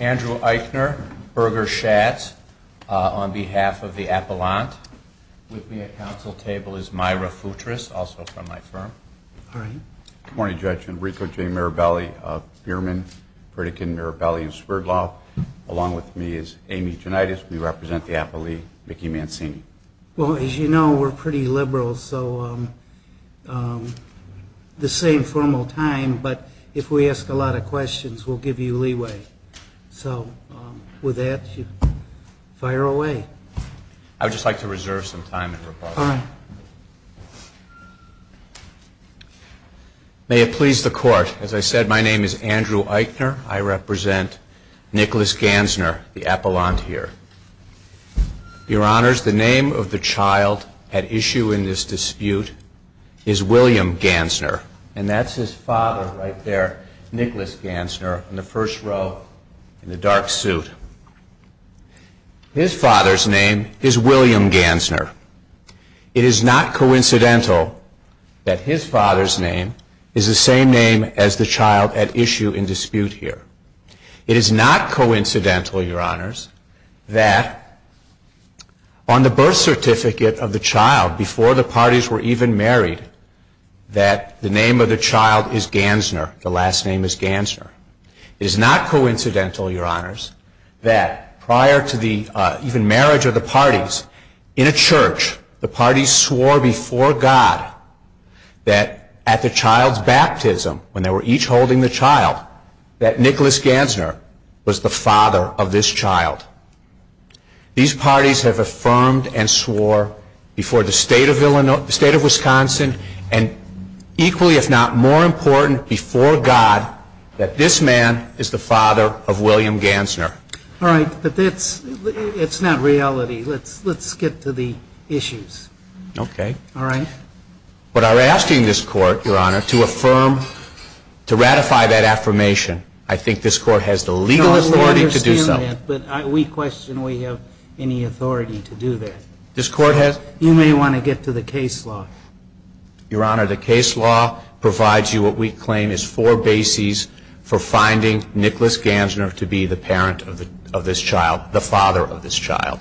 Andrew Eichner, Berger Schatz, on behalf of the Appellant. With me at council table is Myra Futris, also from my firm. Good morning, Judge. Enrico J. Mirabelli, Biermann, Pritikin, Mirabelli, and Sverdlov. Along with me is Amy Gianitis. We represent the appellee, Mickey Mancini. Well, as you know, we're pretty liberal, so the same formal time. But if we ask a lot of questions, we'll give you leeway. So with that, you fire away. I would just like to reserve some time in rebuttal. Fine. May it please the court. As I said, my name is Andrew Eichner. I represent Nicholas Gansner, the appellant here. Your honors, the name of the child at issue in this dispute is William Gansner. And that's his father right there, Nicholas Gansner, in the first row in the dark suit. His father's name is William Gansner. It is not coincidental that his father's name is the same name as the child at issue in dispute here. It is not coincidental, your honors, that on the birth certificate of the child before the parties were even married, that the name of the child is Gansner, the last name is Gansner. It is not coincidental, your honors, that prior to the even marriage of the parties, in a church, the parties swore before God that at the child's baptism, when they were each holding the child, that Nicholas Gansner was the father of this child. These parties have affirmed and swore before the state of Illinois, the state of Wisconsin, and equally, if not more important, before God, that this man is the father of William Gansner. All right, but that's not reality. Let's get to the issues. OK. All right. What I'm asking this court, your honor, to affirm, to ratify that affirmation, I think this court has the legal authority to do so. But we question we have any authority to do that. This court has? You may want to get to the case law. Your honor, the case law provides you what we claim is four bases for finding Nicholas Gansner to be the parent of this child, the father of this child.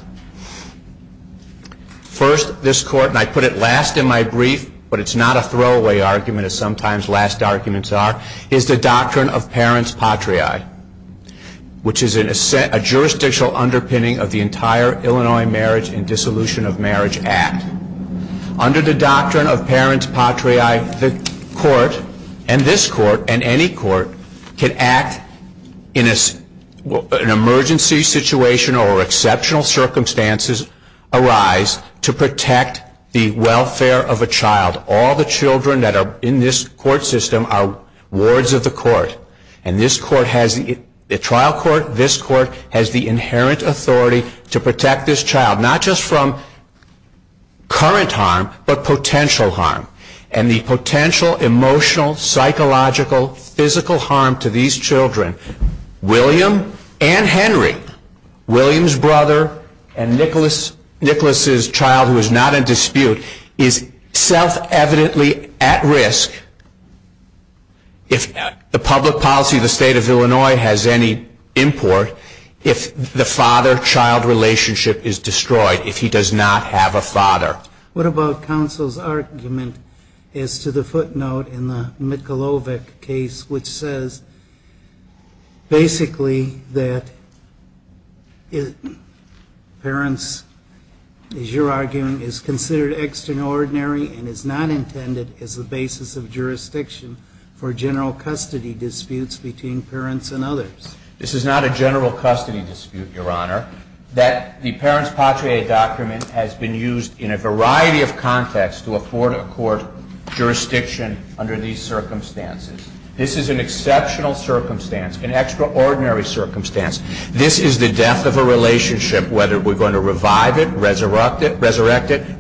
First, this court, and I put it last in my brief, but it's not a throwaway argument, as sometimes last arguments are, is the doctrine of parent's patriae, which is a jurisdictional underpinning of the entire Illinois Marriage and Dissolution of Marriage Act. Under the doctrine of parent's patriae, the court, and this court, and any court, can act in an emergency situation or exceptional circumstances arise to protect the welfare of a child. All the children that are in this court system are wards of the court. And this court has, the trial court, this court has the inherent authority to protect this child, not just from current harm, but potential harm. And the potential emotional, psychological, physical harm to these children, William and Henry, William's brother, and Nicholas's child, who is not in dispute, is self-evidently at risk. If the public policy of the state of Illinois has any import, if the father-child relationship is destroyed, if he does not have a father. What about counsel's argument as to the footnote in the Mikulovic case, which says, basically, that parents, as you're arguing, is considered extraordinary and is not intended as the basis of jurisdiction for general custody disputes between parents and others? This is not a general custody dispute, Your Honor. That the parents patriae document has been used in a variety of contexts to afford a court jurisdiction under these circumstances. This is an exceptional circumstance, an extraordinary circumstance. This is the death of a relationship, whether we're going to revive it, resurrect it,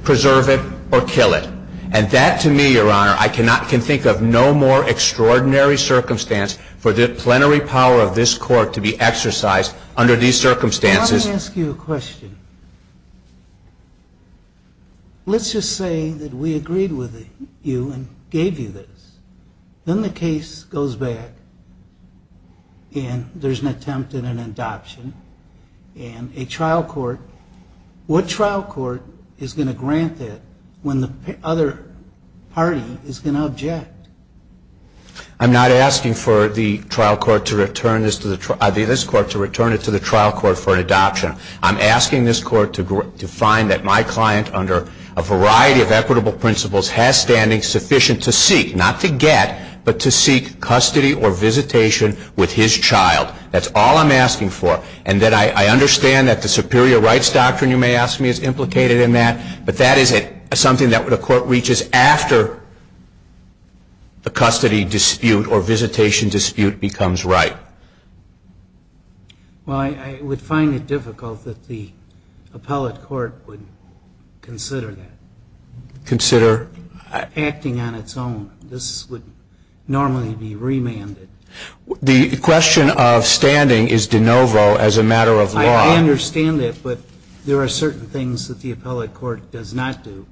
preserve it, or kill it. And that, to me, Your Honor, I cannot can think of no more extraordinary circumstance for the plenary power of this court to be exercised under these circumstances. Let me ask you a question. Let's just say that we agreed with you and gave you this. Then the case goes back, and there's an attempt at an adoption. And a trial court, what trial court is going to grant that when the other party is going to object? I'm not asking for this court to return it to the trial court for an adoption. I'm asking this court to find that my client, under a variety of equitable principles, has standing sufficient to seek, not to get, but to seek custody or visitation with his child. That's all I'm asking for. And I understand that the superior rights doctrine, you may ask me, is implicated in that. But that is something that the court reaches after the custody dispute or visitation dispute becomes right. Well, I would find it difficult that the appellate court would consider that. Consider? Acting on its own. This would normally be remanded. The question of standing is de novo as a matter of law. I understand that, but there are certain things that the appellate court does not do.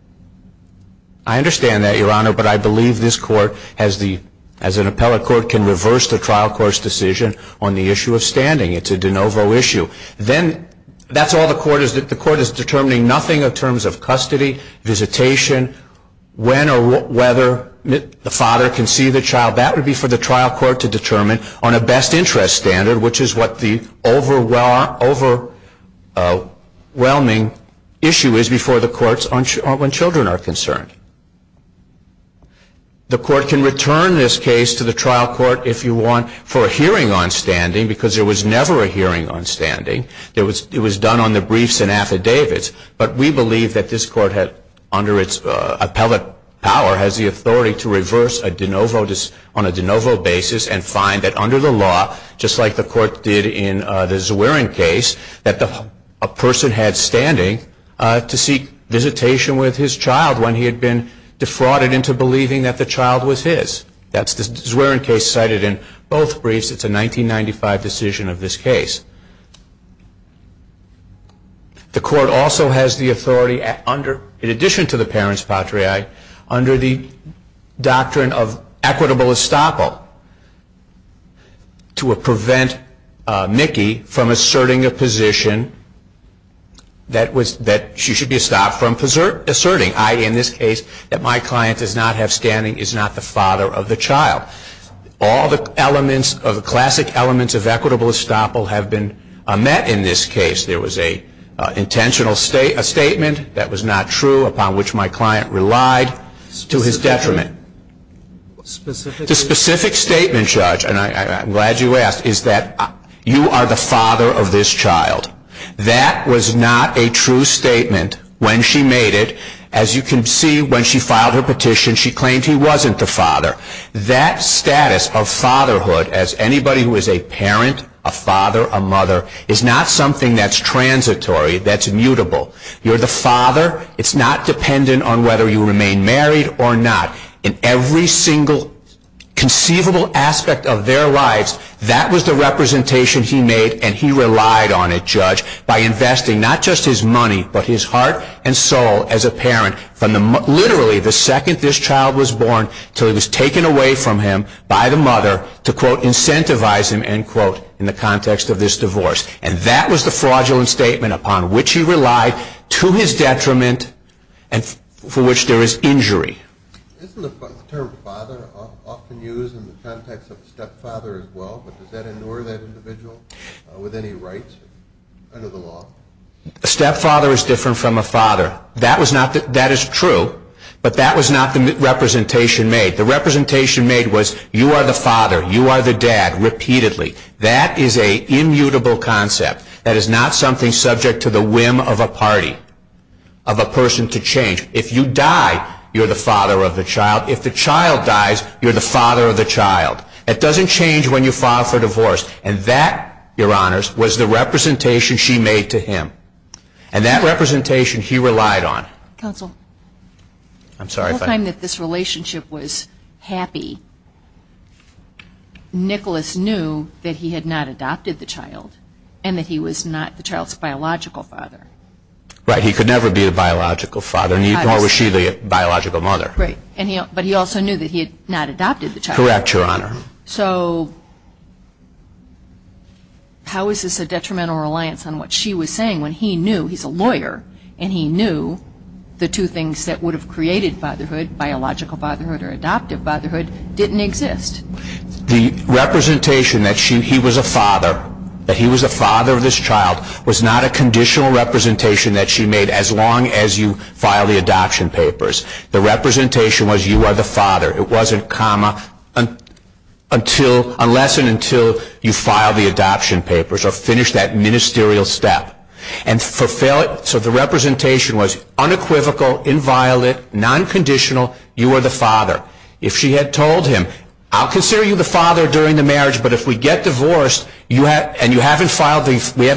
I understand that, Your Honor, but I believe this court, as an appellate court, can reverse the trial court's decision on the issue of standing. It's a de novo issue. Then, that's all the court is. The court is determining nothing in terms of custody, visitation, when or whether the father can see the child. That would be for the trial court to determine on a best interest standard, which is what the overwhelming issue is before the courts when children are concerned. The court can return this case to the trial court, if you want, for a hearing on standing, because there was never a hearing on standing. It was done on the briefs and affidavits. But we believe that this court, under its appellate power, has the authority to reverse on a de novo basis and find that, under the law, just like the court did in the Zwerin case, that a person had standing to seek visitation with his child when he had been defrauded into believing that the child was his. That's the Zwerin case cited in both briefs. It's a 1995 decision of this case. The court also has the authority, in addition to the parent's patriae, under the doctrine of equitable estoppel to prevent Mickey from asserting a position that she should be stopped from asserting, i.e., in this case, that my client does not have standing, is not the father of the child. All the classic elements of equitable estoppel have been met in this case. There was an intentional statement that was not true, upon which my client relied, to his detriment. The specific statement, Judge, and I'm glad you asked, is that you are the father of this child. That was not a true statement when she made it. As you can see, when she filed her petition, she claimed he wasn't the father. That status of fatherhood, as anybody who is a parent, a father, a mother, is not something that's transitory, that's immutable. You're the father. It's not dependent on whether you remain married or not. In every single conceivable aspect of their lives, that was the representation he made, and he relied on it, Judge, by investing not just his money, but his heart and soul as a parent, from literally the second this child was born, till he was taken away from him by the mother, to quote, incentivize him, end quote, in the context of this divorce. And that was the fraudulent statement upon which he relied, to his detriment, and for which there is injury. Isn't the term father often used in the context of stepfather as well, but does that ignore that individual with any rights under the law? A stepfather is different from a father. That is true, but that was not the representation made. The representation made was, you are the father. You are the dad, repeatedly. That is a immutable concept. That is not something subject to the whim of a party, of a person to change. If you die, you're the father of the child. If the child dies, you're the father of the child. That doesn't change when you file for divorce. And that, your honors, was the representation she made to him. And that representation he relied on. Counsel. I'm sorry if I'm not. The whole time that this relationship was happy, Nicholas knew that he had not adopted the child, and that he was not the child's biological father. Right, he could never be the biological father. Nor was she the biological mother. Right. But he also knew that he had not adopted the child. Correct, your honor. So how is this a detrimental reliance on what she was saying, when he knew he's a lawyer, and he knew the two things that would have created fatherhood, biological fatherhood or adoptive fatherhood, didn't exist? The representation that he was a father, that he was a father of this child, was not a conditional representation that she made, as long as you file the adoption papers. The representation was, you are the father. It wasn't comma, unless and until you file the adoption papers, or finish that ministerial step. And so the representation was unequivocal, inviolate, non-conditional, you are the father. If she had told him, I'll consider you the father during the marriage, but if we get divorced, and we haven't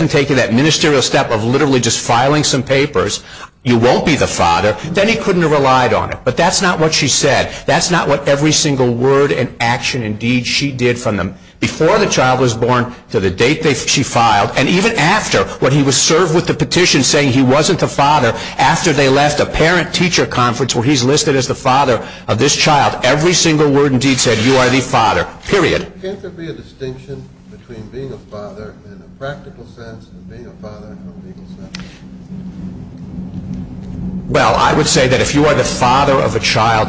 taken that ministerial step of literally just filing some papers, you won't be the father, then he couldn't have relied on it. But that's not what she said. That's not what every single word and action and deed she did from them, before the child was born, to the date she filed, and even after, when he was served with the petition saying he wasn't the father, after they left a parent-teacher conference, where he's listed as the father of this child, every single word and deed said, you are the father, period. Can't there be a distinction between being a father in a practical sense, and being a father in a legal sense? Well, I would say that if you are the father of a child,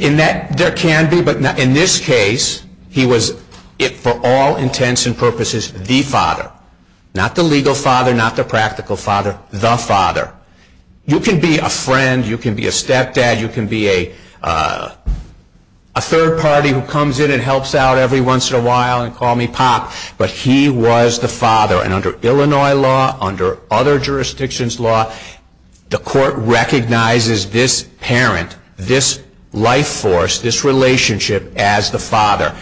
there can be, but in this case, he was, for all intents and purposes, the father. Not the legal father, not the practical father, the father. You can be a friend, you can be a stepdad, you can be a third party who comes in and helps out every once in a while, and call me pop, but he was the father. And under Illinois law, under other jurisdictions law, the court recognizes this parent, this life force, this relationship as the father.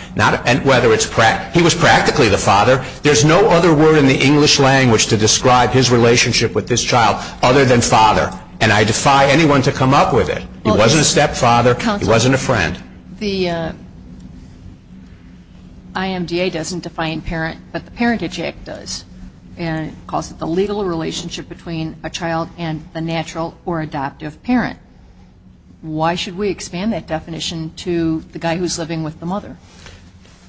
He was practically the father. There's no other word in the English language to describe his relationship with this child other than father. And I defy anyone to come up with it. He wasn't a stepfather, he wasn't a friend. The IMDA doesn't define parent, but the Parentage Act does. And it calls it the legal relationship between a child and the natural or adoptive parent. Why should we expand that definition to the guy who's living with the mother?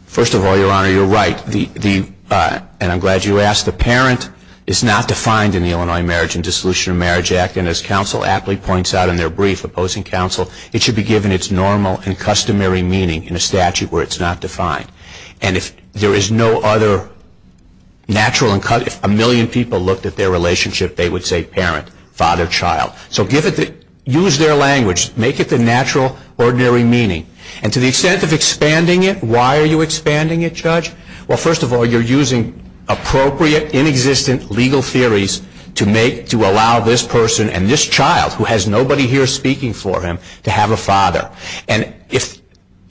First of all, Your Honor, you're right. And I'm glad you asked. The parent is not defined in the Illinois Marriage and Dissolution of Marriage Act, and as counsel aptly points out in their brief opposing counsel, it should be given its normal and customary meaning in a statute where it's not defined. And if there is no other natural and customary, if a million people looked at their relationship, they would say parent, father, child. So use their language. Make it the natural, ordinary meaning. And to the extent of expanding it, why are you expanding it, Judge? Well, first of all, you're using appropriate, inexistent legal theories to allow this person and this child, who has nobody here speaking for him, to have a father. And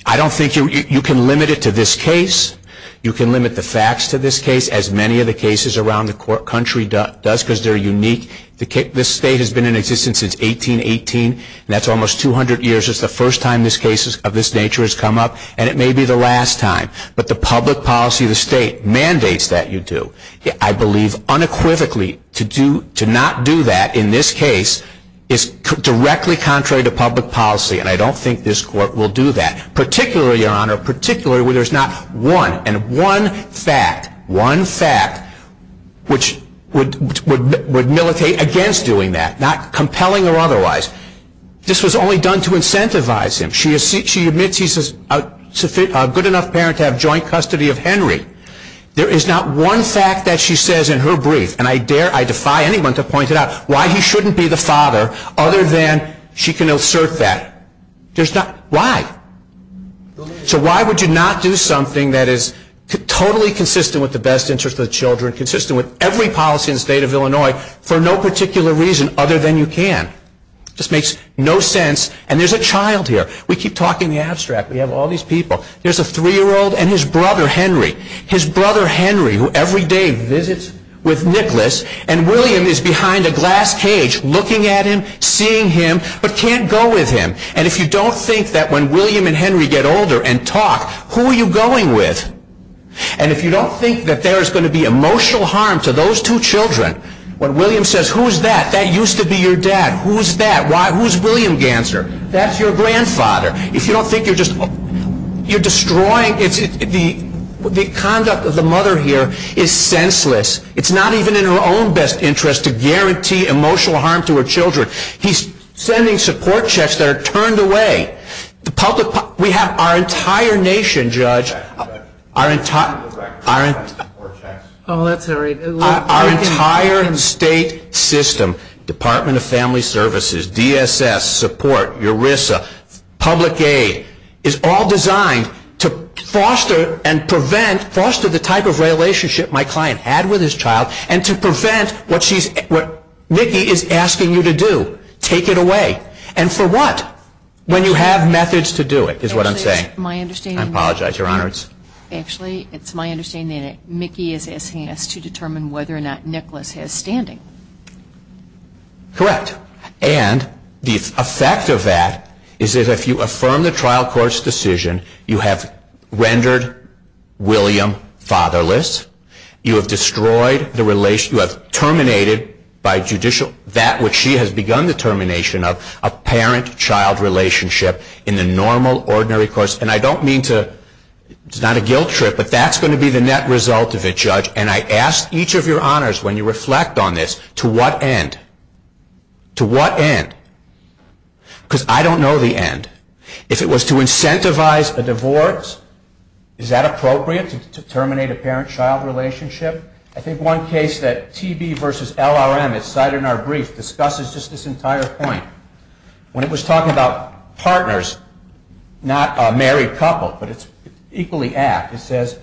I don't think you can limit it to this case. You can limit the facts to this case, as many of the cases around the country does because they're unique. This state has been in existence since 1818, and that's almost 200 years. It's the first time this case of this nature has come up, and it may be the last time. But the public policy of the state mandates that you do. I believe unequivocally to not do that in this case is directly contrary to public policy, and I don't think this court will do that. Particularly, Your Honor, particularly where there's not one and one fact, one fact, which would militate against doing that, not compelling or otherwise. This was only done to incentivize him. She admits he's a good enough parent to have joint custody of Henry. There is not one fact that she says in her brief, and I dare, I defy anyone to point it out, why he shouldn't be the father other than she can assert that. Why? So why would you not do something that is totally consistent with the best interests of the children, consistent with every policy in the state of Illinois for no particular reason other than you can? Just makes no sense. And there's a child here. We keep talking the abstract. We have all these people. There's a three-year-old and his brother, Henry. His brother, Henry, who every day visits with Nicholas, and William is behind a glass cage looking at him, seeing him, but can't go with him. And if you don't think that when William and Henry get older and talk, who are you going with? And if you don't think that there is going to be emotional harm to those two children, when William says, who's that? That used to be your dad. Who's that? Who's William Ganser? That's your grandfather. If you don't think you're just, you're destroying. The conduct of the mother here is senseless. It's not even in her own best interest to guarantee emotional harm to her children. He's sending support checks that are turned away. We have our entire nation, Judge, our entire state system, Department of Family Services, DSS, support, ERISA, public aid, is all designed to foster and prevent, foster the type of relationship my client had with his child, and to prevent what she's, what Nikki is asking you to do. Take it away. And for what? When you have methods to do it, is what I'm saying. My understanding. I apologize, Your Honor. Actually, it's my understanding that Nikki is asking us to determine whether or not Nicholas has standing. Correct. And the effect of that is that if you affirm the trial court's decision, you have rendered William fatherless. You have destroyed the relation, you have terminated by judicial, that which she has begun the termination of, a parent-child relationship in the normal, ordinary course. And I don't mean to, it's not a guilt trip, but that's going to be the net result of it, Judge. And I ask each of your honors, when you reflect on this, to what end? To what end? Because I don't know the end. If it was to incentivize a divorce, is that appropriate to terminate a parent-child relationship? I think one case that TB versus LRM, as cited in our brief, discusses just this entire point, when it was talking about partners, not a married couple, but it's equally apt. It says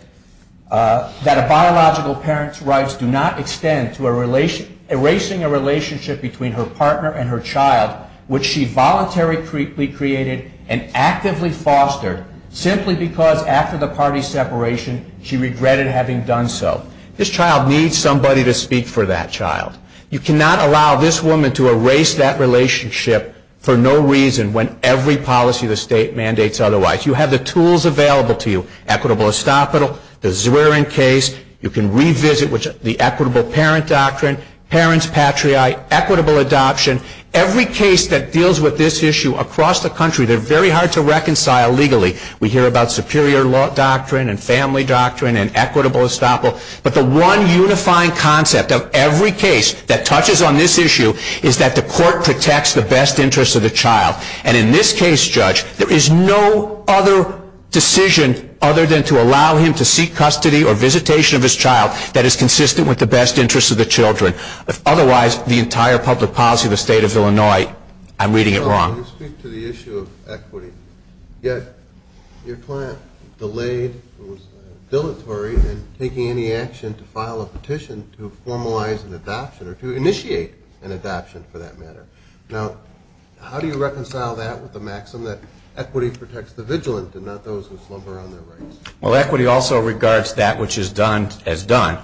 that a biological parent's rights do not extend to erasing a relationship between her partner and her child, which she voluntarily created and actively fostered, simply because, after the party's separation, she regretted having done so. This child needs somebody to speak for that child. You cannot allow this woman to erase that relationship for no reason when every policy of the state mandates otherwise. You have the tools available to you, Equitable Estopital, the Zwerin case. You can revisit the Equitable Parent Doctrine, Parents Patriae, Equitable Adoption. Every case that deals with this issue across the country that are very hard to reconcile legally. We hear about Superior Law Doctrine, and Family Doctrine, and Equitable Estopital. But the one unifying concept of every case that touches on this issue is that the court protects the best interests of the child. And in this case, Judge, there is no other decision other than to allow him to seek custody or visitation of his child that is consistent with the best interests of the children. Otherwise, the entire public policy of the state of Illinois, I'm reading it wrong. You speak to the issue of equity. Yet, your client delayed and was dilatory in taking any action to file a petition to formalize an adoption, or to initiate an adoption, for that matter. Now, how do you reconcile that with the maxim that equity protects the vigilant and not those who slumber on their rights? Well, equity also regards that which is done as done.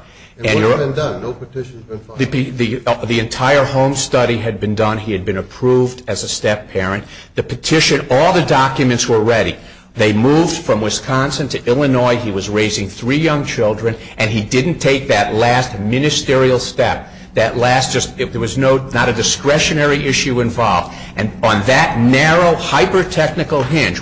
And what's been done? No petition's been filed. The entire Holmes study had been done. As a step-parent, the petition, all the documents were ready. They moved from Wisconsin to Illinois. He was raising three young children. And he didn't take that last ministerial step. That last just, there was not a discretionary issue involved. And on that narrow, hyper-technical hinge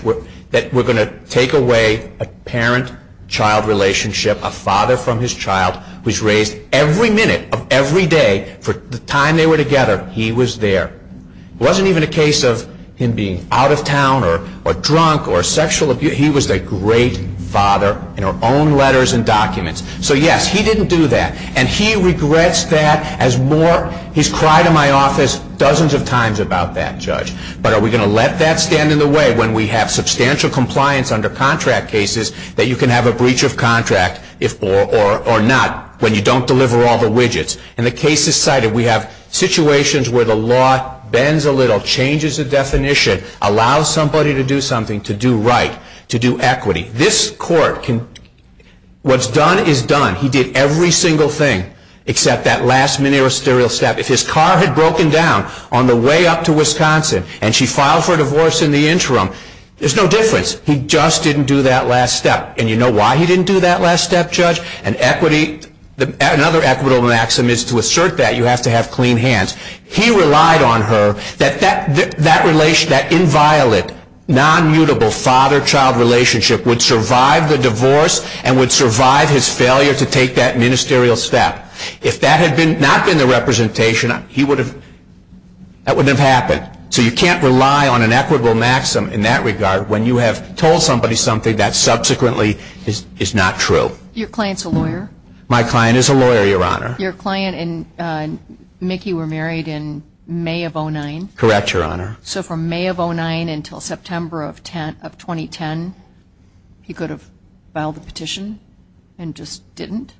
that we're going to take away a parent-child relationship, a father from his child who's raised every minute of every day for the time they were together, he was there. It wasn't even a case of him being out of town, or drunk, or sexual abuse. He was a great father in our own letters and documents. So yes, he didn't do that. And he regrets that as more. He's cried in my office dozens of times about that, Judge. But are we going to let that stand in the way when we have substantial compliance under contract cases that you can have a breach of contract or not, when you don't deliver all the widgets? And the case is cited. We have situations where the law bends a little, changes the definition, allows somebody to do something to do right, to do equity. This court can, what's done is done. He did every single thing except that last ministerial step. If his car had broken down on the way up to Wisconsin and she filed for divorce in the interim, there's no difference. He just didn't do that last step. And you know why he didn't do that last step, Judge? And equity, another equitable maxim is to assert that you have to have clean hands. He relied on her that that relation, that inviolate, non-mutable father-child relationship would survive the divorce and would survive his failure to take that ministerial step. If that had not been the representation, he would have, that wouldn't have happened. So you can't rely on an equitable maxim in that regard when you have told somebody something that subsequently is not true. Your client's a lawyer? My client is a lawyer, Your Honor. Your client and Mickey were married in May of 09? Correct, Your Honor. So from May of 09 until September of 2010, he could have filed the petition and just didn't?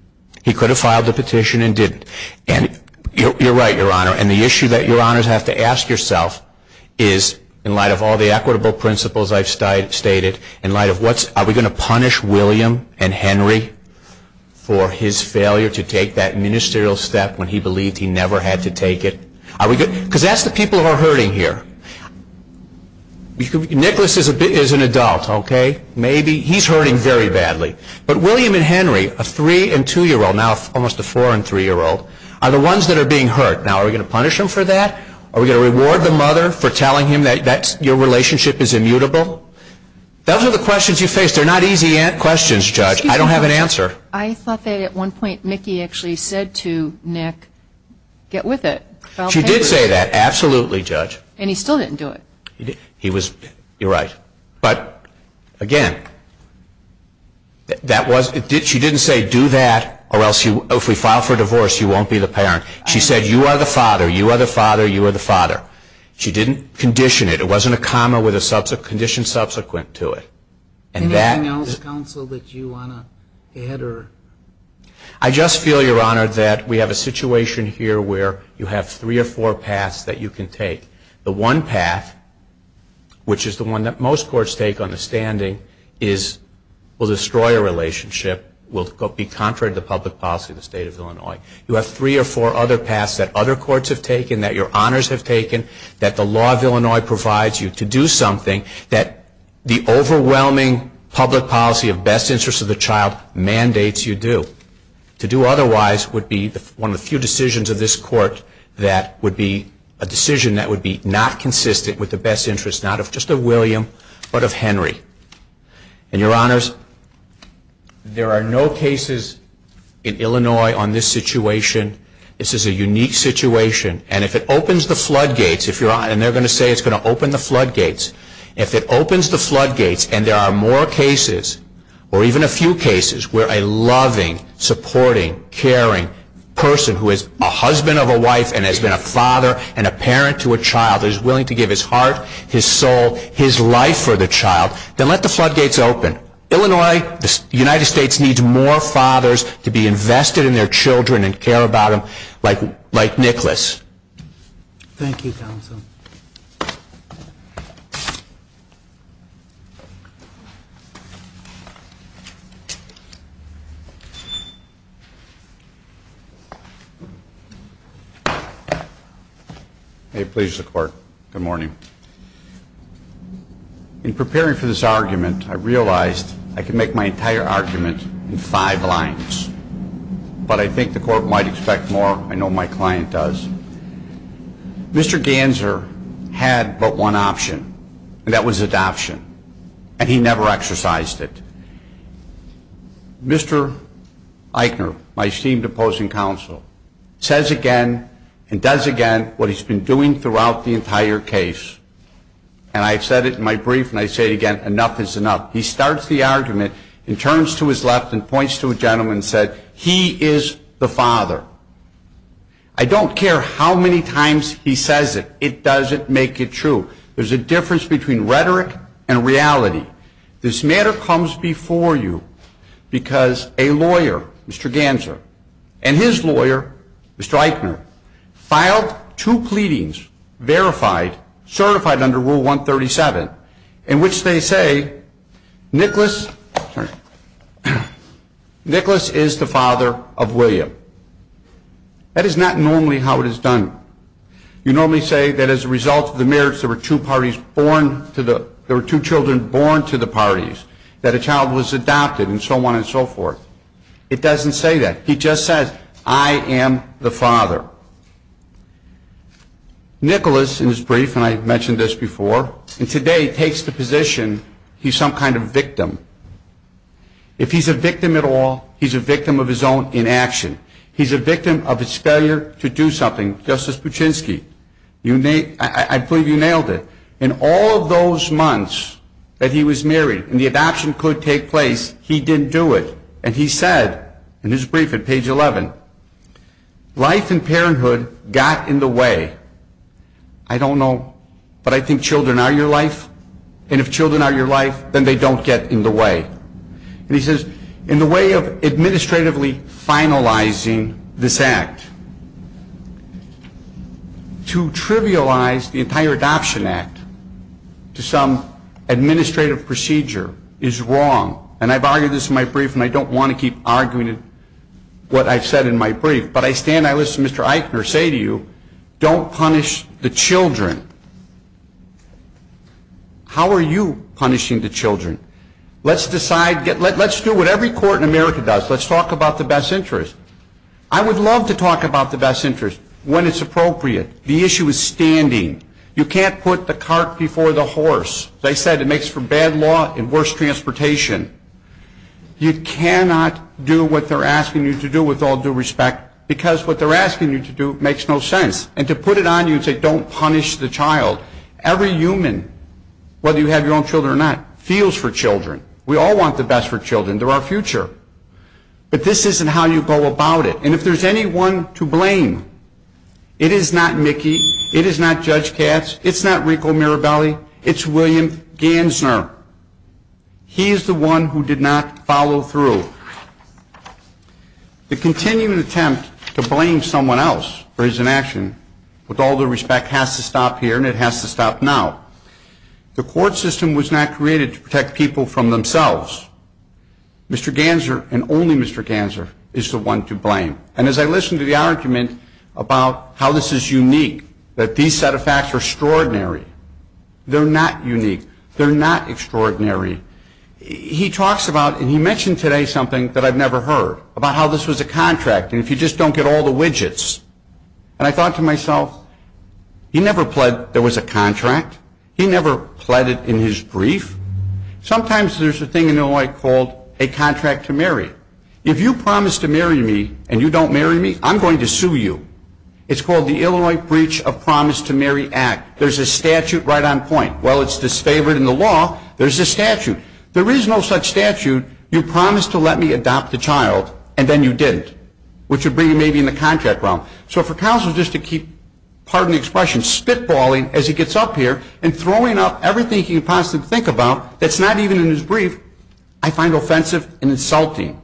He could have filed the petition and didn't. And you're right, Your Honor. And the issue that Your Honors have to ask yourself is, in light of all the equitable principles I've stated, in light of what's, are we going to punish William and Henry for his failure to take that ministerial step when he believed he never had to take it? Are we good? Because that's the people who are hurting here. Nicholas is an adult, OK? Maybe. He's hurting very badly. But William and Henry, a three and two-year-old, now almost a four and three-year-old, are the ones that are being hurt. Now, are we going to punish them for that? Are we going to reward the mother for telling him that your relationship is immutable? Those are the questions you face. They're not easy questions, Judge. I don't have an answer. I thought that at one point, Mickey actually said to Nick, get with it. She did say that, absolutely, Judge. And he still didn't do it. He was, you're right. But again, she didn't say, do that, or else if we file for divorce, you won't be the parent. She said, you are the father. You are the father. You are the father. She didn't condition it. It wasn't a comma with a condition subsequent to it. Anything else, counsel, that you want to add? I just feel, Your Honor, that we have a situation here where you have three or four paths that you can take. The one path, which is the one that most courts take on the standing, will destroy a relationship, will be contrary to the public policy of the state of Illinois. You have three or four other paths that other courts have taken, that your honors have taken, that the law of Illinois provides you to do something, that the overwhelming public policy of best interest of the child mandates you do. To do otherwise would be one of the few decisions of this court that would be a decision that would be not consistent with the best interests, not of just of William, but of Henry. And your honors, there are no cases in Illinois on this situation. This is a unique situation. And if it opens the floodgates, and they're going to say it's going to open the floodgates, if it opens the floodgates and there are more cases, or even a few cases, where a loving, supporting, caring person who is a husband of a wife and has been a father and a parent to a child is willing to give his heart, his soul, his life for the child, then let the floodgates open. Illinois, the United States, needs more fathers to be invested in their children and care about them, like Nicholas. Thank you, counsel. Thank you. May it please the court. Good morning. In preparing for this argument, I realized I could make my entire argument in five lines. But I think the court might expect more. I know my client does. Mr. Ganser had but one option, and that was adoption. And he never exercised it. Mr. Eichner, my esteemed opposing counsel, says again and does again what he's been doing throughout the entire case. And I've said it in my brief, and I say it again. Enough is enough. He starts the argument and turns to his left and points to a gentleman and said, he is the father. I don't care how many times he says it, it doesn't make it true. There's a difference between rhetoric and reality. This matter comes before you because a lawyer, Mr. Ganser, and his lawyer, Mr. Eichner, filed two pleadings, verified, certified under Rule 137, in which they say Nicholas is the father of William. That is not normally how it is done. You normally say that as a result of the marriage, there were two children born to the parties, that a child was adopted, and so on and so forth. It doesn't say that. He just says, I am the father. Nicholas, in his brief, and I mentioned this before, and today, takes the position he's some kind of victim. If he's a victim at all, he's a victim of his own inaction. He's a victim of his failure to do something. Justice Puchinsky, I believe you nailed it. In all of those months that he was married and the adoption could take place, he didn't do it. And he said, in his brief at page 11, life and parenthood got in the way. I don't know, but I think children are your life. And if children are your life, then they don't get in the way. And he says, in the way of administratively finalizing this act, to trivialize the entire adoption act to some administrative procedure is wrong. And I've argued this in my brief, and I don't want to keep arguing what I've said in my brief. But I stand, I listen to Mr. Eichner say to you, don't punish the children. How are you punishing the children? Let's decide, let's do what every court in America does. Let's talk about the best interest. I would love to talk about the best interest when it's appropriate. The issue is standing. You can't put the cart before the horse. They said it makes for bad law and worse transportation. You cannot do what they're asking you to do with all due respect, because what they're asking you to do is to put it on you and say, don't punish the child. Every human, whether you have your own children or not, feels for children. We all want the best for children. They're our future. But this isn't how you go about it. And if there's anyone to blame, it is not Mickey. It is not Judge Katz. It's not Rico Mirabelli. It's William Gansner. He is the one who did not follow through. The continuing attempt to blame someone else for his inaction, with all due respect, has to stop here, and it has to stop now. The court system was not created to protect people from themselves. Mr. Gansner, and only Mr. Gansner, is the one to blame. And as I listened to the argument about how this is unique, that these set of facts are extraordinary. They're not unique. They're not extraordinary. He talks about, and he mentioned today something that I've never heard, about how this was a contract. And if you just don't get all the widgets. And I thought to myself, he never pled there was a contract. He never pled it in his brief. Sometimes there's a thing in Illinois called, a contract to marry. If you promise to marry me, and you don't marry me, I'm going to sue you. It's called the Illinois Breach of Promise to Marry Act. There's a statute right on point. While it's disfavored in the law, there's a statute. There is no such statute, you promised to let me adopt a child, and then you didn't, which would bring you maybe in the contract realm. So for counsel just to keep, pardon the expression, spitballing as he gets up here, and throwing up everything he can possibly think about, that's not even in his brief, I find offensive and insulting.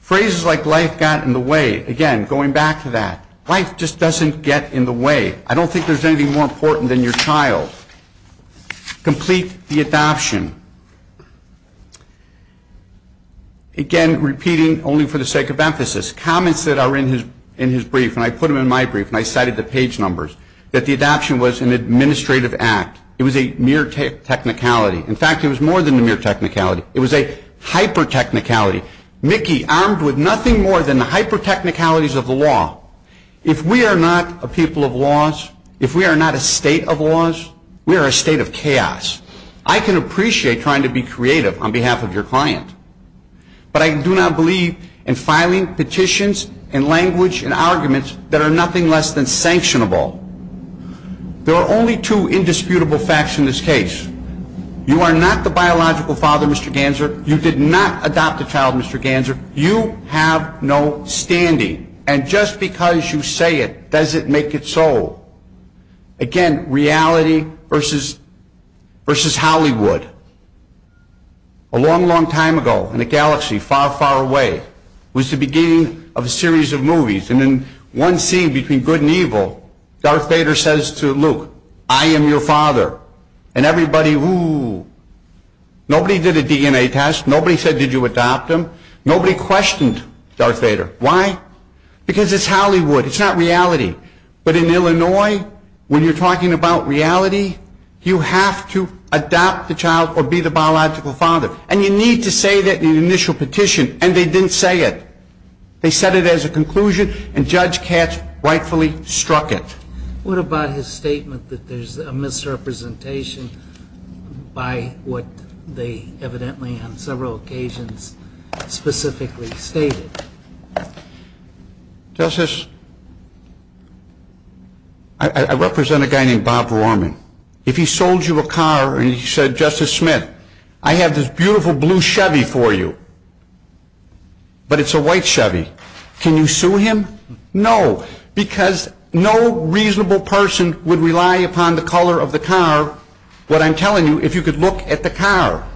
Phrases like life got in the way, again, going back to that. Life just doesn't get in the way. I don't think there's anything more important than your child. Complete the adoption. Again, repeating only for the sake of emphasis, comments that are in his brief, and I put them in my brief, and I cited the page numbers, that the adoption was an administrative act. It was a mere technicality. In fact, it was more than a mere technicality. It was a hyper-technicality. Mickey, armed with nothing more than the hyper-technicalities of the law, if we are not a people of laws, if we are not a state of laws, we are a state of chaos. I can appreciate trying to be creative on behalf of your client. But I do not believe in filing petitions, and language, and arguments that are nothing less than sanctionable. There are only two indisputable facts in this case. You are not the biological father, Mr. Ganser. You did not adopt a child, Mr. Ganser. You have no standing. And just because you say it, does it make it so? Again, reality versus Hollywood. A long, long time ago, in a galaxy far, far away, was the beginning of a series of movies. And in one scene, between good and evil, Darth Vader says to Luke, I am your father. And everybody, ooh. Nobody did a DNA test. Nobody said, did you adopt him? Nobody questioned Darth Vader. Why? Because it's Hollywood. It's not reality. But in Illinois, when you're talking about reality, you have to adopt the child or be the biological father. And you need to say that in an initial petition. And they didn't say it. They said it as a conclusion. And Judge Katz rightfully struck it. What about his statement that there's a misrepresentation by what they evidently, on several occasions, specifically stated? Justice, I represent a guy named Bob Vorman. If he sold you a car and he said, Justice Smith, I have this beautiful blue Chevy for you. But it's a white Chevy. Can you sue him? No, because no reasonable person would rely upon the color of the car. What I'm telling you, if you could look at the car,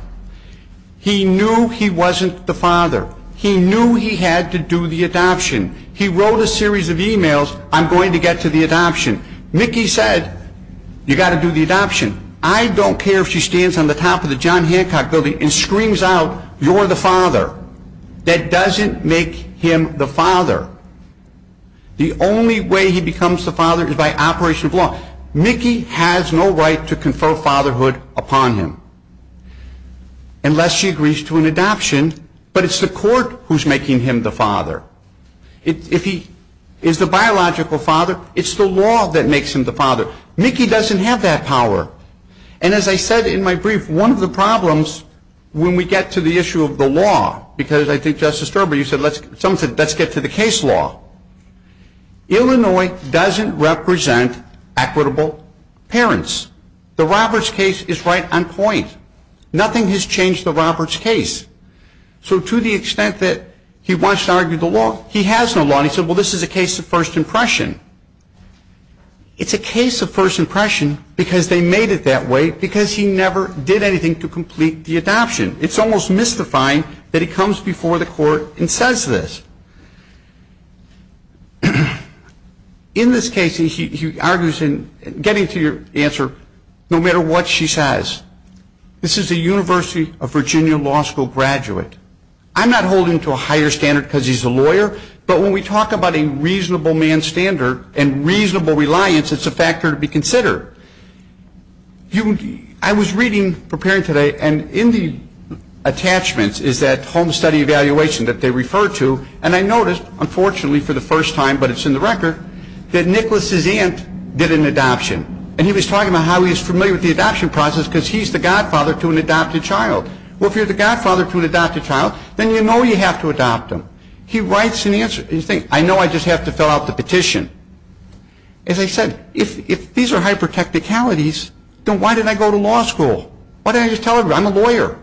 he knew he wasn't the father. He knew he had to do the adoption. He wrote a series of emails, I'm going to get to the adoption. Mickey said, you've got to do the adoption. I don't care if she stands on the top of the John Hancock building and screams out, you're the father. That doesn't make him the father. The only way he becomes the father is by operation of law. Mickey has no right to confer fatherhood upon him unless she agrees to an adoption. But it's the court who's making him the father. If he is the biological father, it's the law that makes him the father. Mickey doesn't have that power. And as I said in my brief, one of the problems when we get to the issue of the law, because I think Justice Sterber, you said, someone said, let's get to the case law. Illinois doesn't represent equitable parents. The Roberts case is right on point. Nothing has changed the Roberts case. So to the extent that he wants to argue the law, he has no law. And he said, well, this is a case of first impression. It's a case of first impression because they made it that way because he never did anything to complete the adoption. It's almost mystifying that he comes before the court and says this. In this case, he argues in getting to your answer, no matter what she says. This is a University of Virginia Law School graduate. I'm not holding to a higher standard because he's a lawyer. But when we talk about a reasonable man's standard and reasonable reliance, it's a factor to be considered. I was reading, preparing today, and in the attachments is that home study evaluation that they refer to. And I noticed, unfortunately for the first time, but it's in the record, that Nicholas's aunt did an adoption. And he was talking about how he's familiar with the adoption process because he's the godfather to an adopted child. Well, if you're the godfather to an adopted child, then you know you have to adopt him. He writes an answer. And you think, I know I just have to fill out the petition. As I said, if these are hyper technicalities, then why did I go to law school? Why didn't I just tell everybody I'm a lawyer?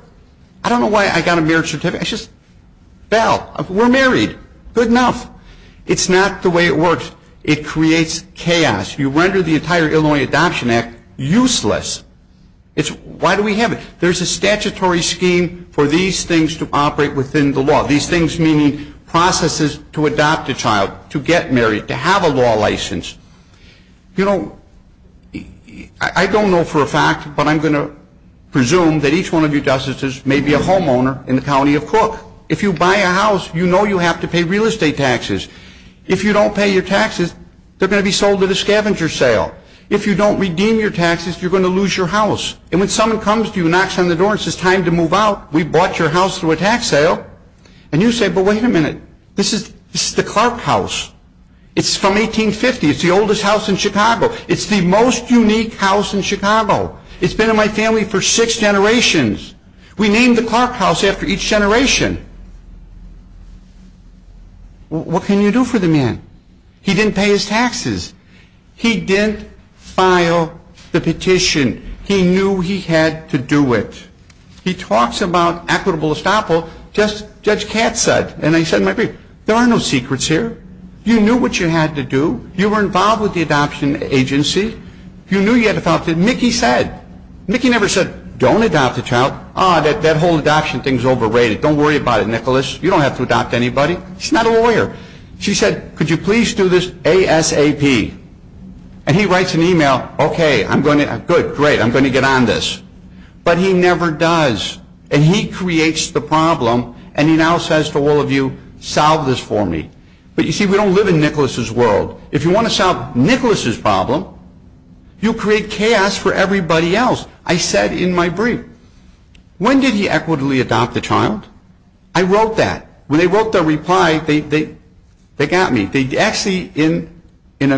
I don't know why I got a marriage certificate. I just, bell, we're married. Good enough. It's not the way it works. It creates chaos. You render the entire Illinois Adoption Act useless. Why do we have it? There's a statutory scheme for these things to operate within the law. These things meaning processes to adopt a child, to get married, to have a law license. I don't know for a fact, but I'm going to presume that each one of you justices may be a homeowner in the county of Cook. If you buy a house, you know you have to pay real estate taxes. If you don't pay your taxes, they're going to be sold at a scavenger sale. If you don't redeem your taxes, you're going to lose your house. And when someone comes to you and knocks on the door and says, time to move out. We bought your house through a tax sale. And you say, but wait a minute. This is the Clark house. It's from 1850. It's the oldest house in Chicago. It's the most unique house in Chicago. It's been in my family for six generations. We named the Clark house after each generation. What can you do for the man? He didn't pay his taxes. He didn't file the petition. He knew he had to do it. He talks about equitable estoppel. Just Judge Katz said, and I said in my brief, there are no secrets here. You knew what you had to do. You were involved with the adoption agency. You knew you had to adopt. Mickey said, Mickey never said, don't adopt a child. Ah, that whole adoption thing is overrated. Don't worry about it, Nicholas. You don't have to adopt anybody. He's not a lawyer. She said, could you please do this ASAP? And he writes an email, OK, I'm going to, good, great. I'm going to get on this. But he never does. And he creates the problem. And he now says to all of you, solve this for me. But you see, we don't live in Nicholas's world. If you want to solve Nicholas's problem, you create chaos for everybody else. I said in my brief, when did he equitably adopt the child? I wrote that. When they wrote their reply, they got me. They actually, in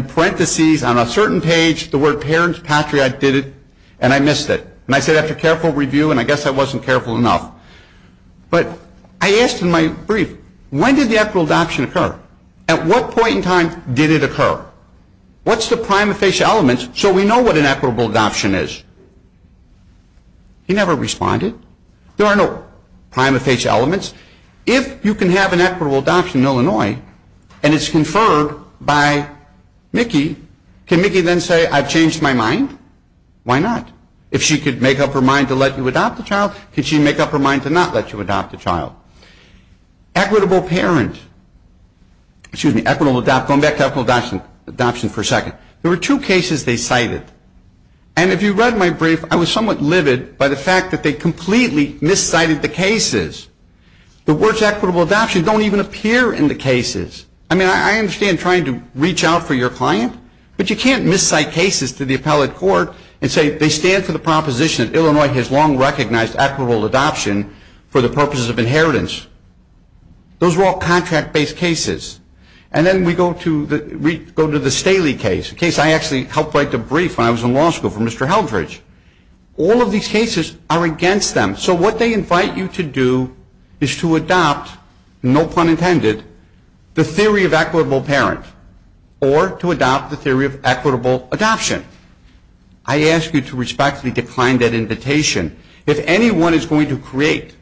parentheses on a certain page, the word parents, patriot, did it. And I missed it. And I said, after careful review, and I guess I wasn't careful enough. But I asked in my brief, when did the equitable adoption occur? At what point in time did it occur? What's the prima facie elements so we know what an equitable adoption is? He never responded. There are no prima facie elements. If you can have an equitable adoption in Illinois, and it's conferred by Mickey, can Mickey then say, I've changed my mind? Why not? If she could make up her mind to let you adopt the child, could she make up her mind to not let you adopt the child? Equitable parent, excuse me, equitable adopt, going back to equitable adoption for a second. There were two cases they cited. And if you read my brief, I was somewhat livid by the fact that they completely miscited the cases. The words equitable adoption don't even appear in the cases. I mean, I understand trying to reach out for your client. But you can't miscite cases to the appellate court and say they stand for the proposition that Illinois has long recognized equitable adoption for the purposes of inheritance. Those were all contract-based cases. And then we go to the Staley case, a case I actually helped write the brief when I was in law school for Mr. Heldrich. All of these cases are against them. So what they invite you to do is to adopt, no pun intended, the theory of equitable parent or to adopt the theory of equitable adoption. I ask you to respectfully decline that invitation. If anyone is going to create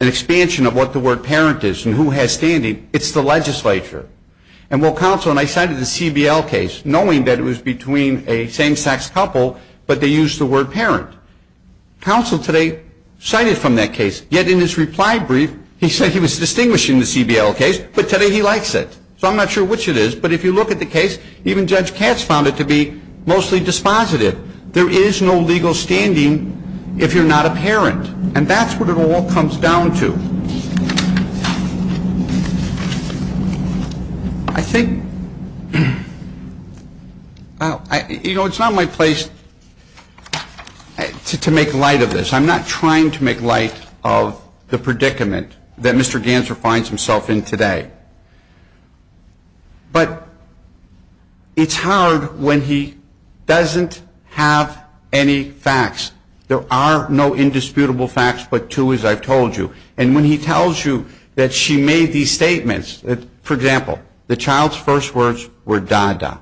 an expansion of what the word parent is and who has standing, it's the legislature. And while counsel and I cited the CBL case, knowing that it was between a same-sex couple, but they used the word parent. Counsel today cited from that case, yet in his reply brief, he said he was distinguishing the CBL case, but today he likes it. So I'm not sure which it is. But if you look at the case, even Judge Katz found it to be mostly dispositive. There is no legal standing if you're not a parent. And that's what it all comes down to. I think it's not my place to make light of this. I'm not trying to make light of the predicament that Mr. Ganser finds himself in today. But it's hard when he doesn't have any facts. There are no indisputable facts but two, as I've told you. And when he tells you that she made these statements, for example, the child's first words were da-da.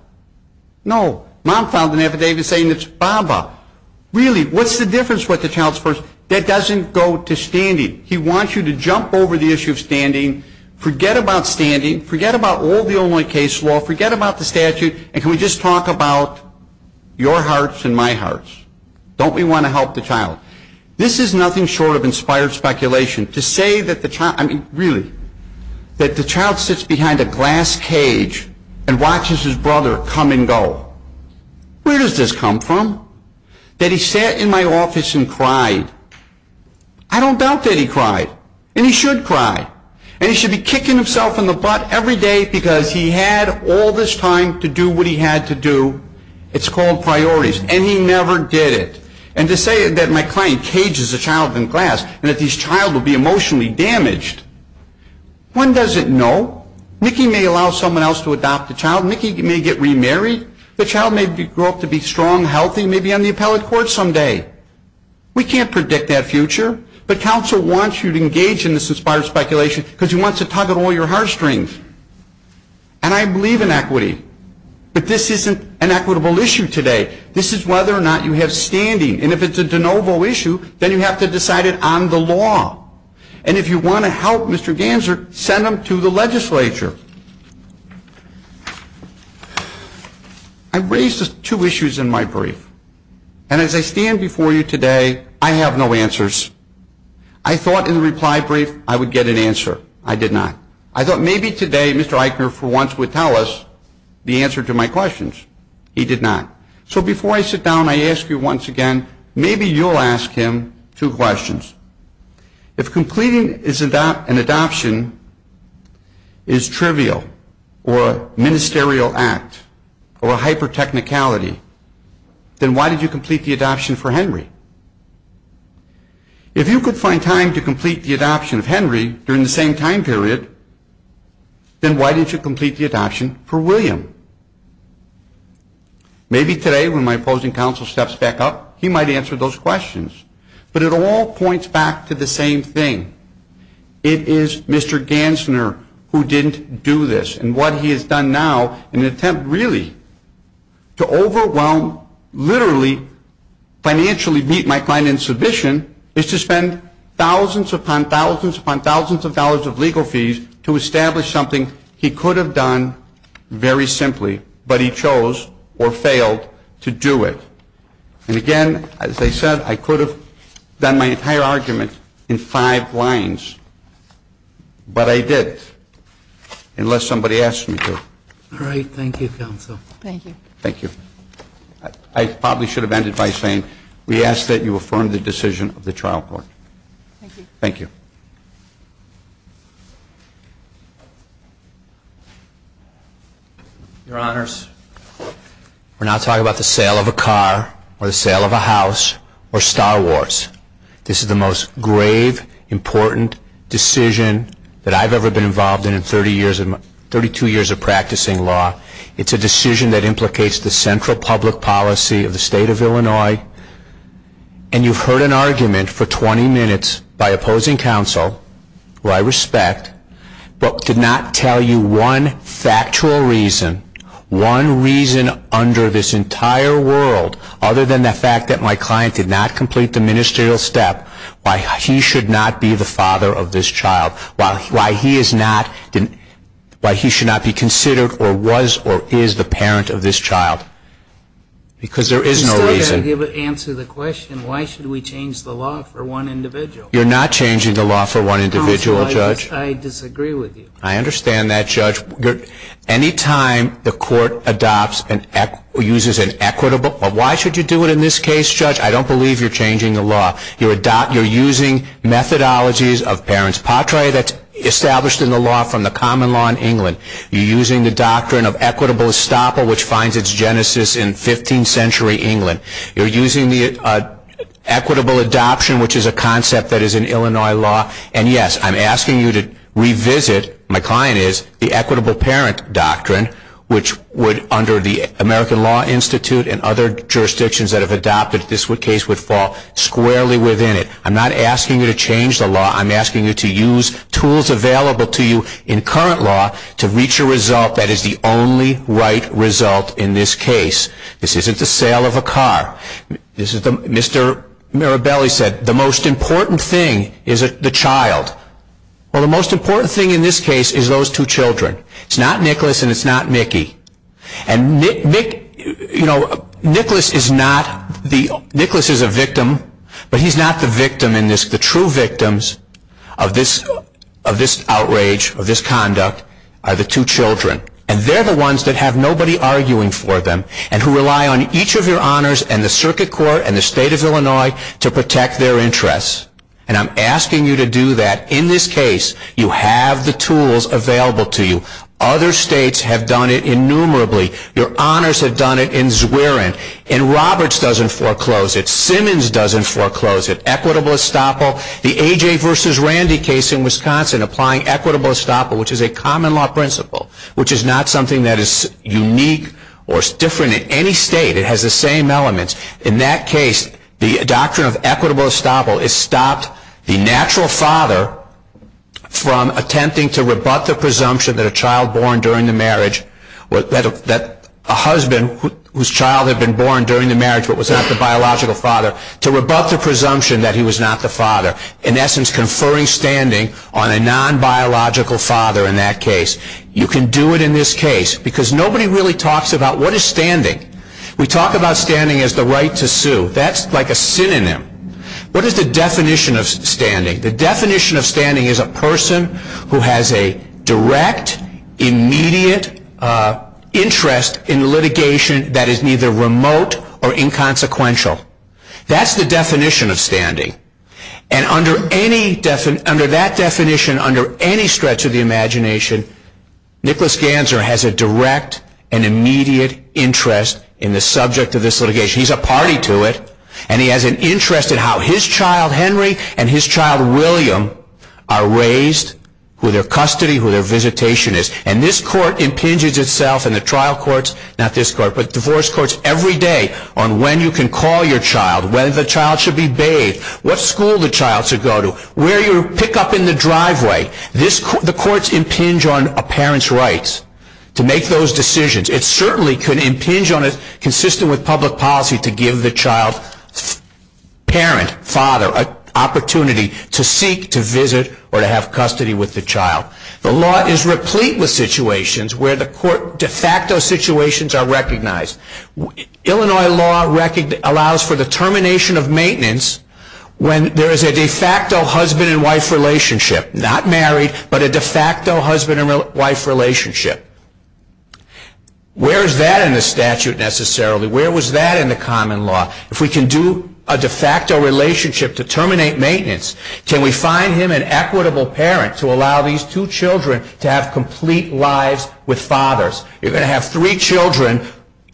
No. Mom found an affidavit saying it's baba. Really, what's the difference with the child's first? That doesn't go to standing. He wants you to jump over the issue of standing, forget about standing, forget about all the Illinois case law, forget about the statute, and can we just talk about your hearts and my hearts? Don't we want to help the child? This is nothing short of inspired speculation. To say that the child, I mean, really, that the child sits behind a glass cage and watches his brother come and go, where does this come from? That he sat in my office and cried. I don't doubt that he cried. And he should cry. And he should be kicking himself in the butt every day because he had all this time to do what he had to do. It's called priorities. And he never did it. And to say that my client cages a child in glass and that this child will be emotionally damaged, one doesn't know. Nikki may allow someone else to adopt the child. Nikki may get remarried. The child may grow up to be strong, healthy, may be on the appellate court someday. We can't predict that future. But counsel wants you to engage in this inspired speculation because he wants to tug at all your heartstrings. And I believe in equity. But this isn't an equitable issue today. This is whether or not you have standing. And if it's a de novo issue, then you have to decide it on the law. And if you want to help Mr. Ganser, send him to the legislature. I raised two issues in my brief. And as I stand before you today, I have no answers. I thought in the reply brief I would get an answer. I did not. I thought maybe today Mr. Eichner for once would tell us the answer to my questions. He did not. So before I sit down, I ask you once again, maybe you'll ask him two questions. If completing an adoption is trivial or a ministerial act or a hyper-technicality, then why did you If you could find time to complete the adoption of Henry during the same time period, then why didn't you complete the adoption for William? Maybe today when my opposing counsel steps back up, he might answer those questions. But it all points back to the same thing. It is Mr. Ganser who didn't do this. And what he has done now in an attempt really to overwhelm, literally, financially meet my client in submission is to spend thousands upon thousands upon thousands of dollars of legal fees to establish something he could have done very simply, but he chose or failed to do it. And again, as I said, I could have done my entire argument in five lines. But I didn't, unless somebody asked me to. All right, thank you, counsel. Thank you. Thank you. I probably should have ended by saying we ask that you affirm the decision of the trial court. Thank you. Thank you. Your Honors, we're now talking about the sale of a car or the sale of a house or Star Wars. This is the most grave, important decision that I've ever been involved in in 32 years of practicing law. It's a decision that implicates the central public policy of the state of Illinois. And you've heard an argument for 20 minutes by opposing counsel, who I respect, but did not tell you one factual reason, one reason under this entire world, other than the fact that my client did not complete the ministerial step, why he should not be the father of this child, why he should not be considered or was or is the parent of this child. Because there is no reason. You still have to answer the question, why should we change the law for one individual? You're not changing the law for one individual, Judge. Counsel, I disagree with you. I understand that, Judge. Any time the court adopts and uses an equitable, or why should you do it in this case, Judge? I don't believe you're changing the law. You're using methodologies of parents. Patria, that's established in the law from the common law in England. You're using the doctrine of equitable estoppel, which finds its genesis in 15th century England. You're using the equitable adoption, which is a concept that is in Illinois law. And yes, I'm asking you to revisit, my client is, the equitable parent doctrine, which would, under the American Law Institute and other jurisdictions that have adopted this case, would fall squarely within it. I'm not asking you to change the law. I'm asking you to use tools available to you in current law to reach a result that is the only right result in this case. This isn't the sale of a car. Mr. Mirabelli said, the most important thing is the child. Well, the most important thing in this case is those two children. It's not Nicholas, and it's not Mickey. And Nicholas is a victim, but he's not the victim in this. The true victims of this outrage, of this conduct, are the two children. And they're the ones that have nobody arguing for them, and who rely on each of your honors, and the circuit court, and the state of Illinois to protect their interests. And I'm asking you to do that. In this case, you have the tools available to you. Other states have done it innumerably. Your honors have done it in Zwerin. And Roberts doesn't foreclose it. Simmons doesn't foreclose it. Equitable estoppel. The AJ versus Randy case in Wisconsin, applying equitable estoppel, which is a common law principle, which is not something that is unique or different in any state. It has the same elements. In that case, the doctrine of equitable estoppel has stopped the natural father from attempting to rebut the presumption that a child born during the marriage, that a husband whose child had been born during the marriage but was not the biological father, to rebut the presumption that he was not the father. In essence, conferring standing on a non-biological father in that case, you can do it in this case. Because nobody really talks about what is standing. We talk about standing as the right to sue. That's like a synonym. What is the definition of standing? The definition of standing is a person who has a direct, immediate interest in litigation that is neither remote or inconsequential. That's the definition of standing. And under that definition, under any stretch of the imagination, Nicholas Ganser has a direct and immediate interest in the subject of this litigation. He's a party to it. And he has an interest in how his child, Henry, and his child, William, are raised, who their custody, who their visitation is. And this court impinges itself in the trial courts, not this court, but divorce courts every day on when you can call your child, when the child should be bathed, what school the child should go to, where you pick up in the driveway. The courts impinge on a parent's rights to make those decisions. It certainly could impinge on it, consistent with public policy, to give the child's parent, father, an opportunity to seek, to visit, or to have custody with the child. The law is replete with situations where the court de facto situations are recognized. Illinois law allows for the termination of maintenance when there is a de facto husband and wife relationship, not married, but a de facto husband and wife relationship. Where is that in the statute, necessarily? Where was that in the common law? If we can do a de facto relationship to terminate maintenance, can we find him an equitable parent to allow these two children to have complete lives with fathers? You're going to have three children,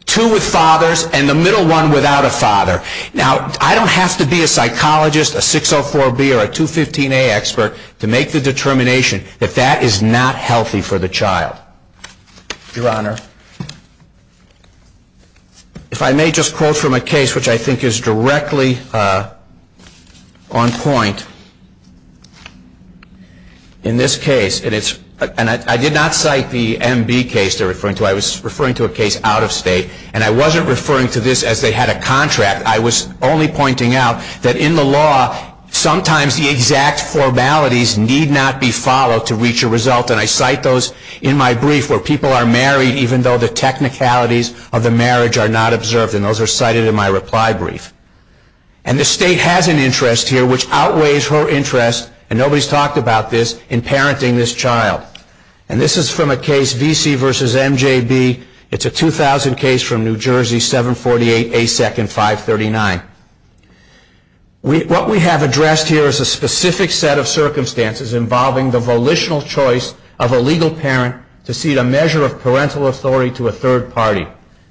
two with fathers, and the middle one without a father. Now, I don't have to be a psychologist, a 604B, or a 215A expert to make the determination that that is not healthy for the child. Your Honor, if I may just quote from a case which I think is directly on point. In this case, and I did not cite the MB case they're referring to, I was referring to a case out of state. And I wasn't referring to this as they had a contract. I was only pointing out that in the law, sometimes the exact formalities need not be followed to reach a result. And I cite those in my brief, where people are married even though the technicalities of the marriage are not observed. And those are cited in my reply brief. And the state has an interest here which outweighs her interest, and nobody's talked about this, in parenting this child. And this is from a case, VC versus MJB. It's a 2000 case from New Jersey, 748 ASEC and 539. What we have addressed here is a specific set of circumstances involving the volitional choice of a legal parent to cede a measure of parental authority to a third party,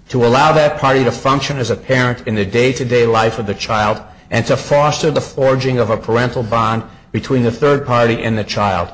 to allow that party to function as a parent in the day-to-day life of the child, and to foster the forging of a parental bond between the third party and the child.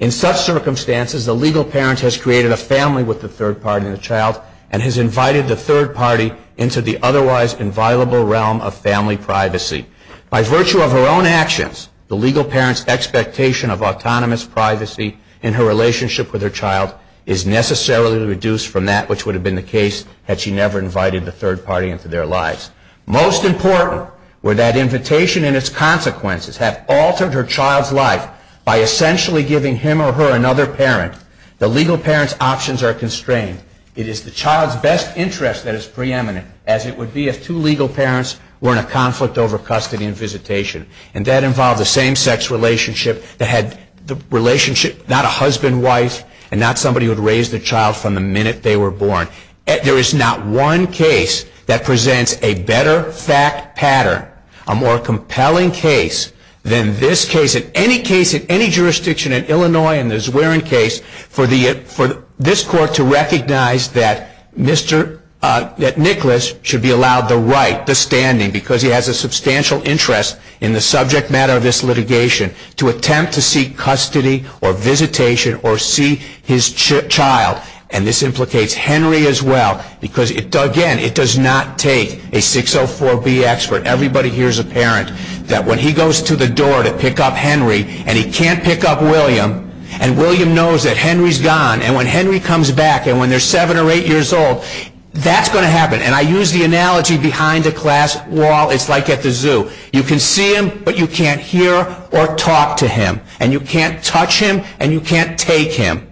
In such circumstances, the legal parent has created a family with the third party and the child, and has invited the third party into the otherwise inviolable realm of family privacy. By virtue of her own actions, the legal parent's expectation of autonomous privacy in her relationship with her child is necessarily reduced from that which would have been the case had she never invited the third party into their lives. Most important, where that invitation and its consequences have altered her child's life by essentially giving him or her another parent, the legal parent's options are constrained. It is the child's best interest that is preeminent, as it would be if two legal parents were in a conflict over custody and visitation. And that involved the same-sex relationship that had the relationship not a husband-wife and not somebody who would raise the child from the minute they were born. There is not one case that presents a better fact pattern, a more compelling case, than this case. In any case, in any jurisdiction in Illinois, in the Zwerin case, for this court to recognize that Nicholas should be allowed the right, the standing, because he has a substantial interest in the subject matter of this litigation, to attempt to seek custody or visitation or see his child. And this implicates Henry as well, because again, it does not take a 604B expert. Everybody here is a parent that when he goes to the door to pick up Henry and he can't pick up William, and William knows that Henry's gone. And when Henry comes back and when they're seven or eight years old, that's going to happen. And I use the analogy behind a glass wall. It's like at the zoo. You can see him, but you can't hear or talk to him. And you can't touch him, and you can't take him.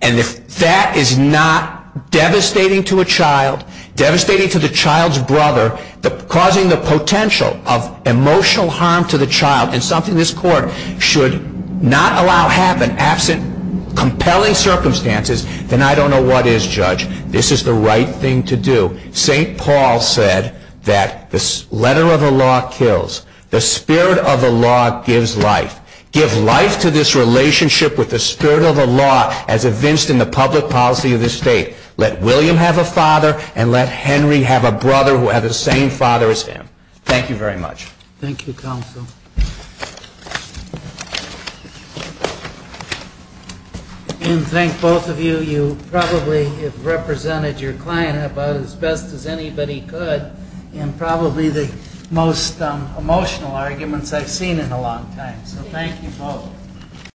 And if that is not devastating to a child, devastating to the child's brother, causing the potential of emotional harm to the child, and something this court should not allow happen absent compelling circumstances, then I don't know what is, Judge. This is the right thing to do. St. Paul said that the letter of the law kills. The spirit of the law gives life. Give life to this relationship with the spirit of the law as evinced in the public policy of this state. Let William have a father, and let Henry have a brother who has the same father as him. Thank you very much. Thank you, counsel. And thank both of you. You probably have represented your client about as best as anybody could, and probably the most emotional arguments I've seen in a long time. So thank you both.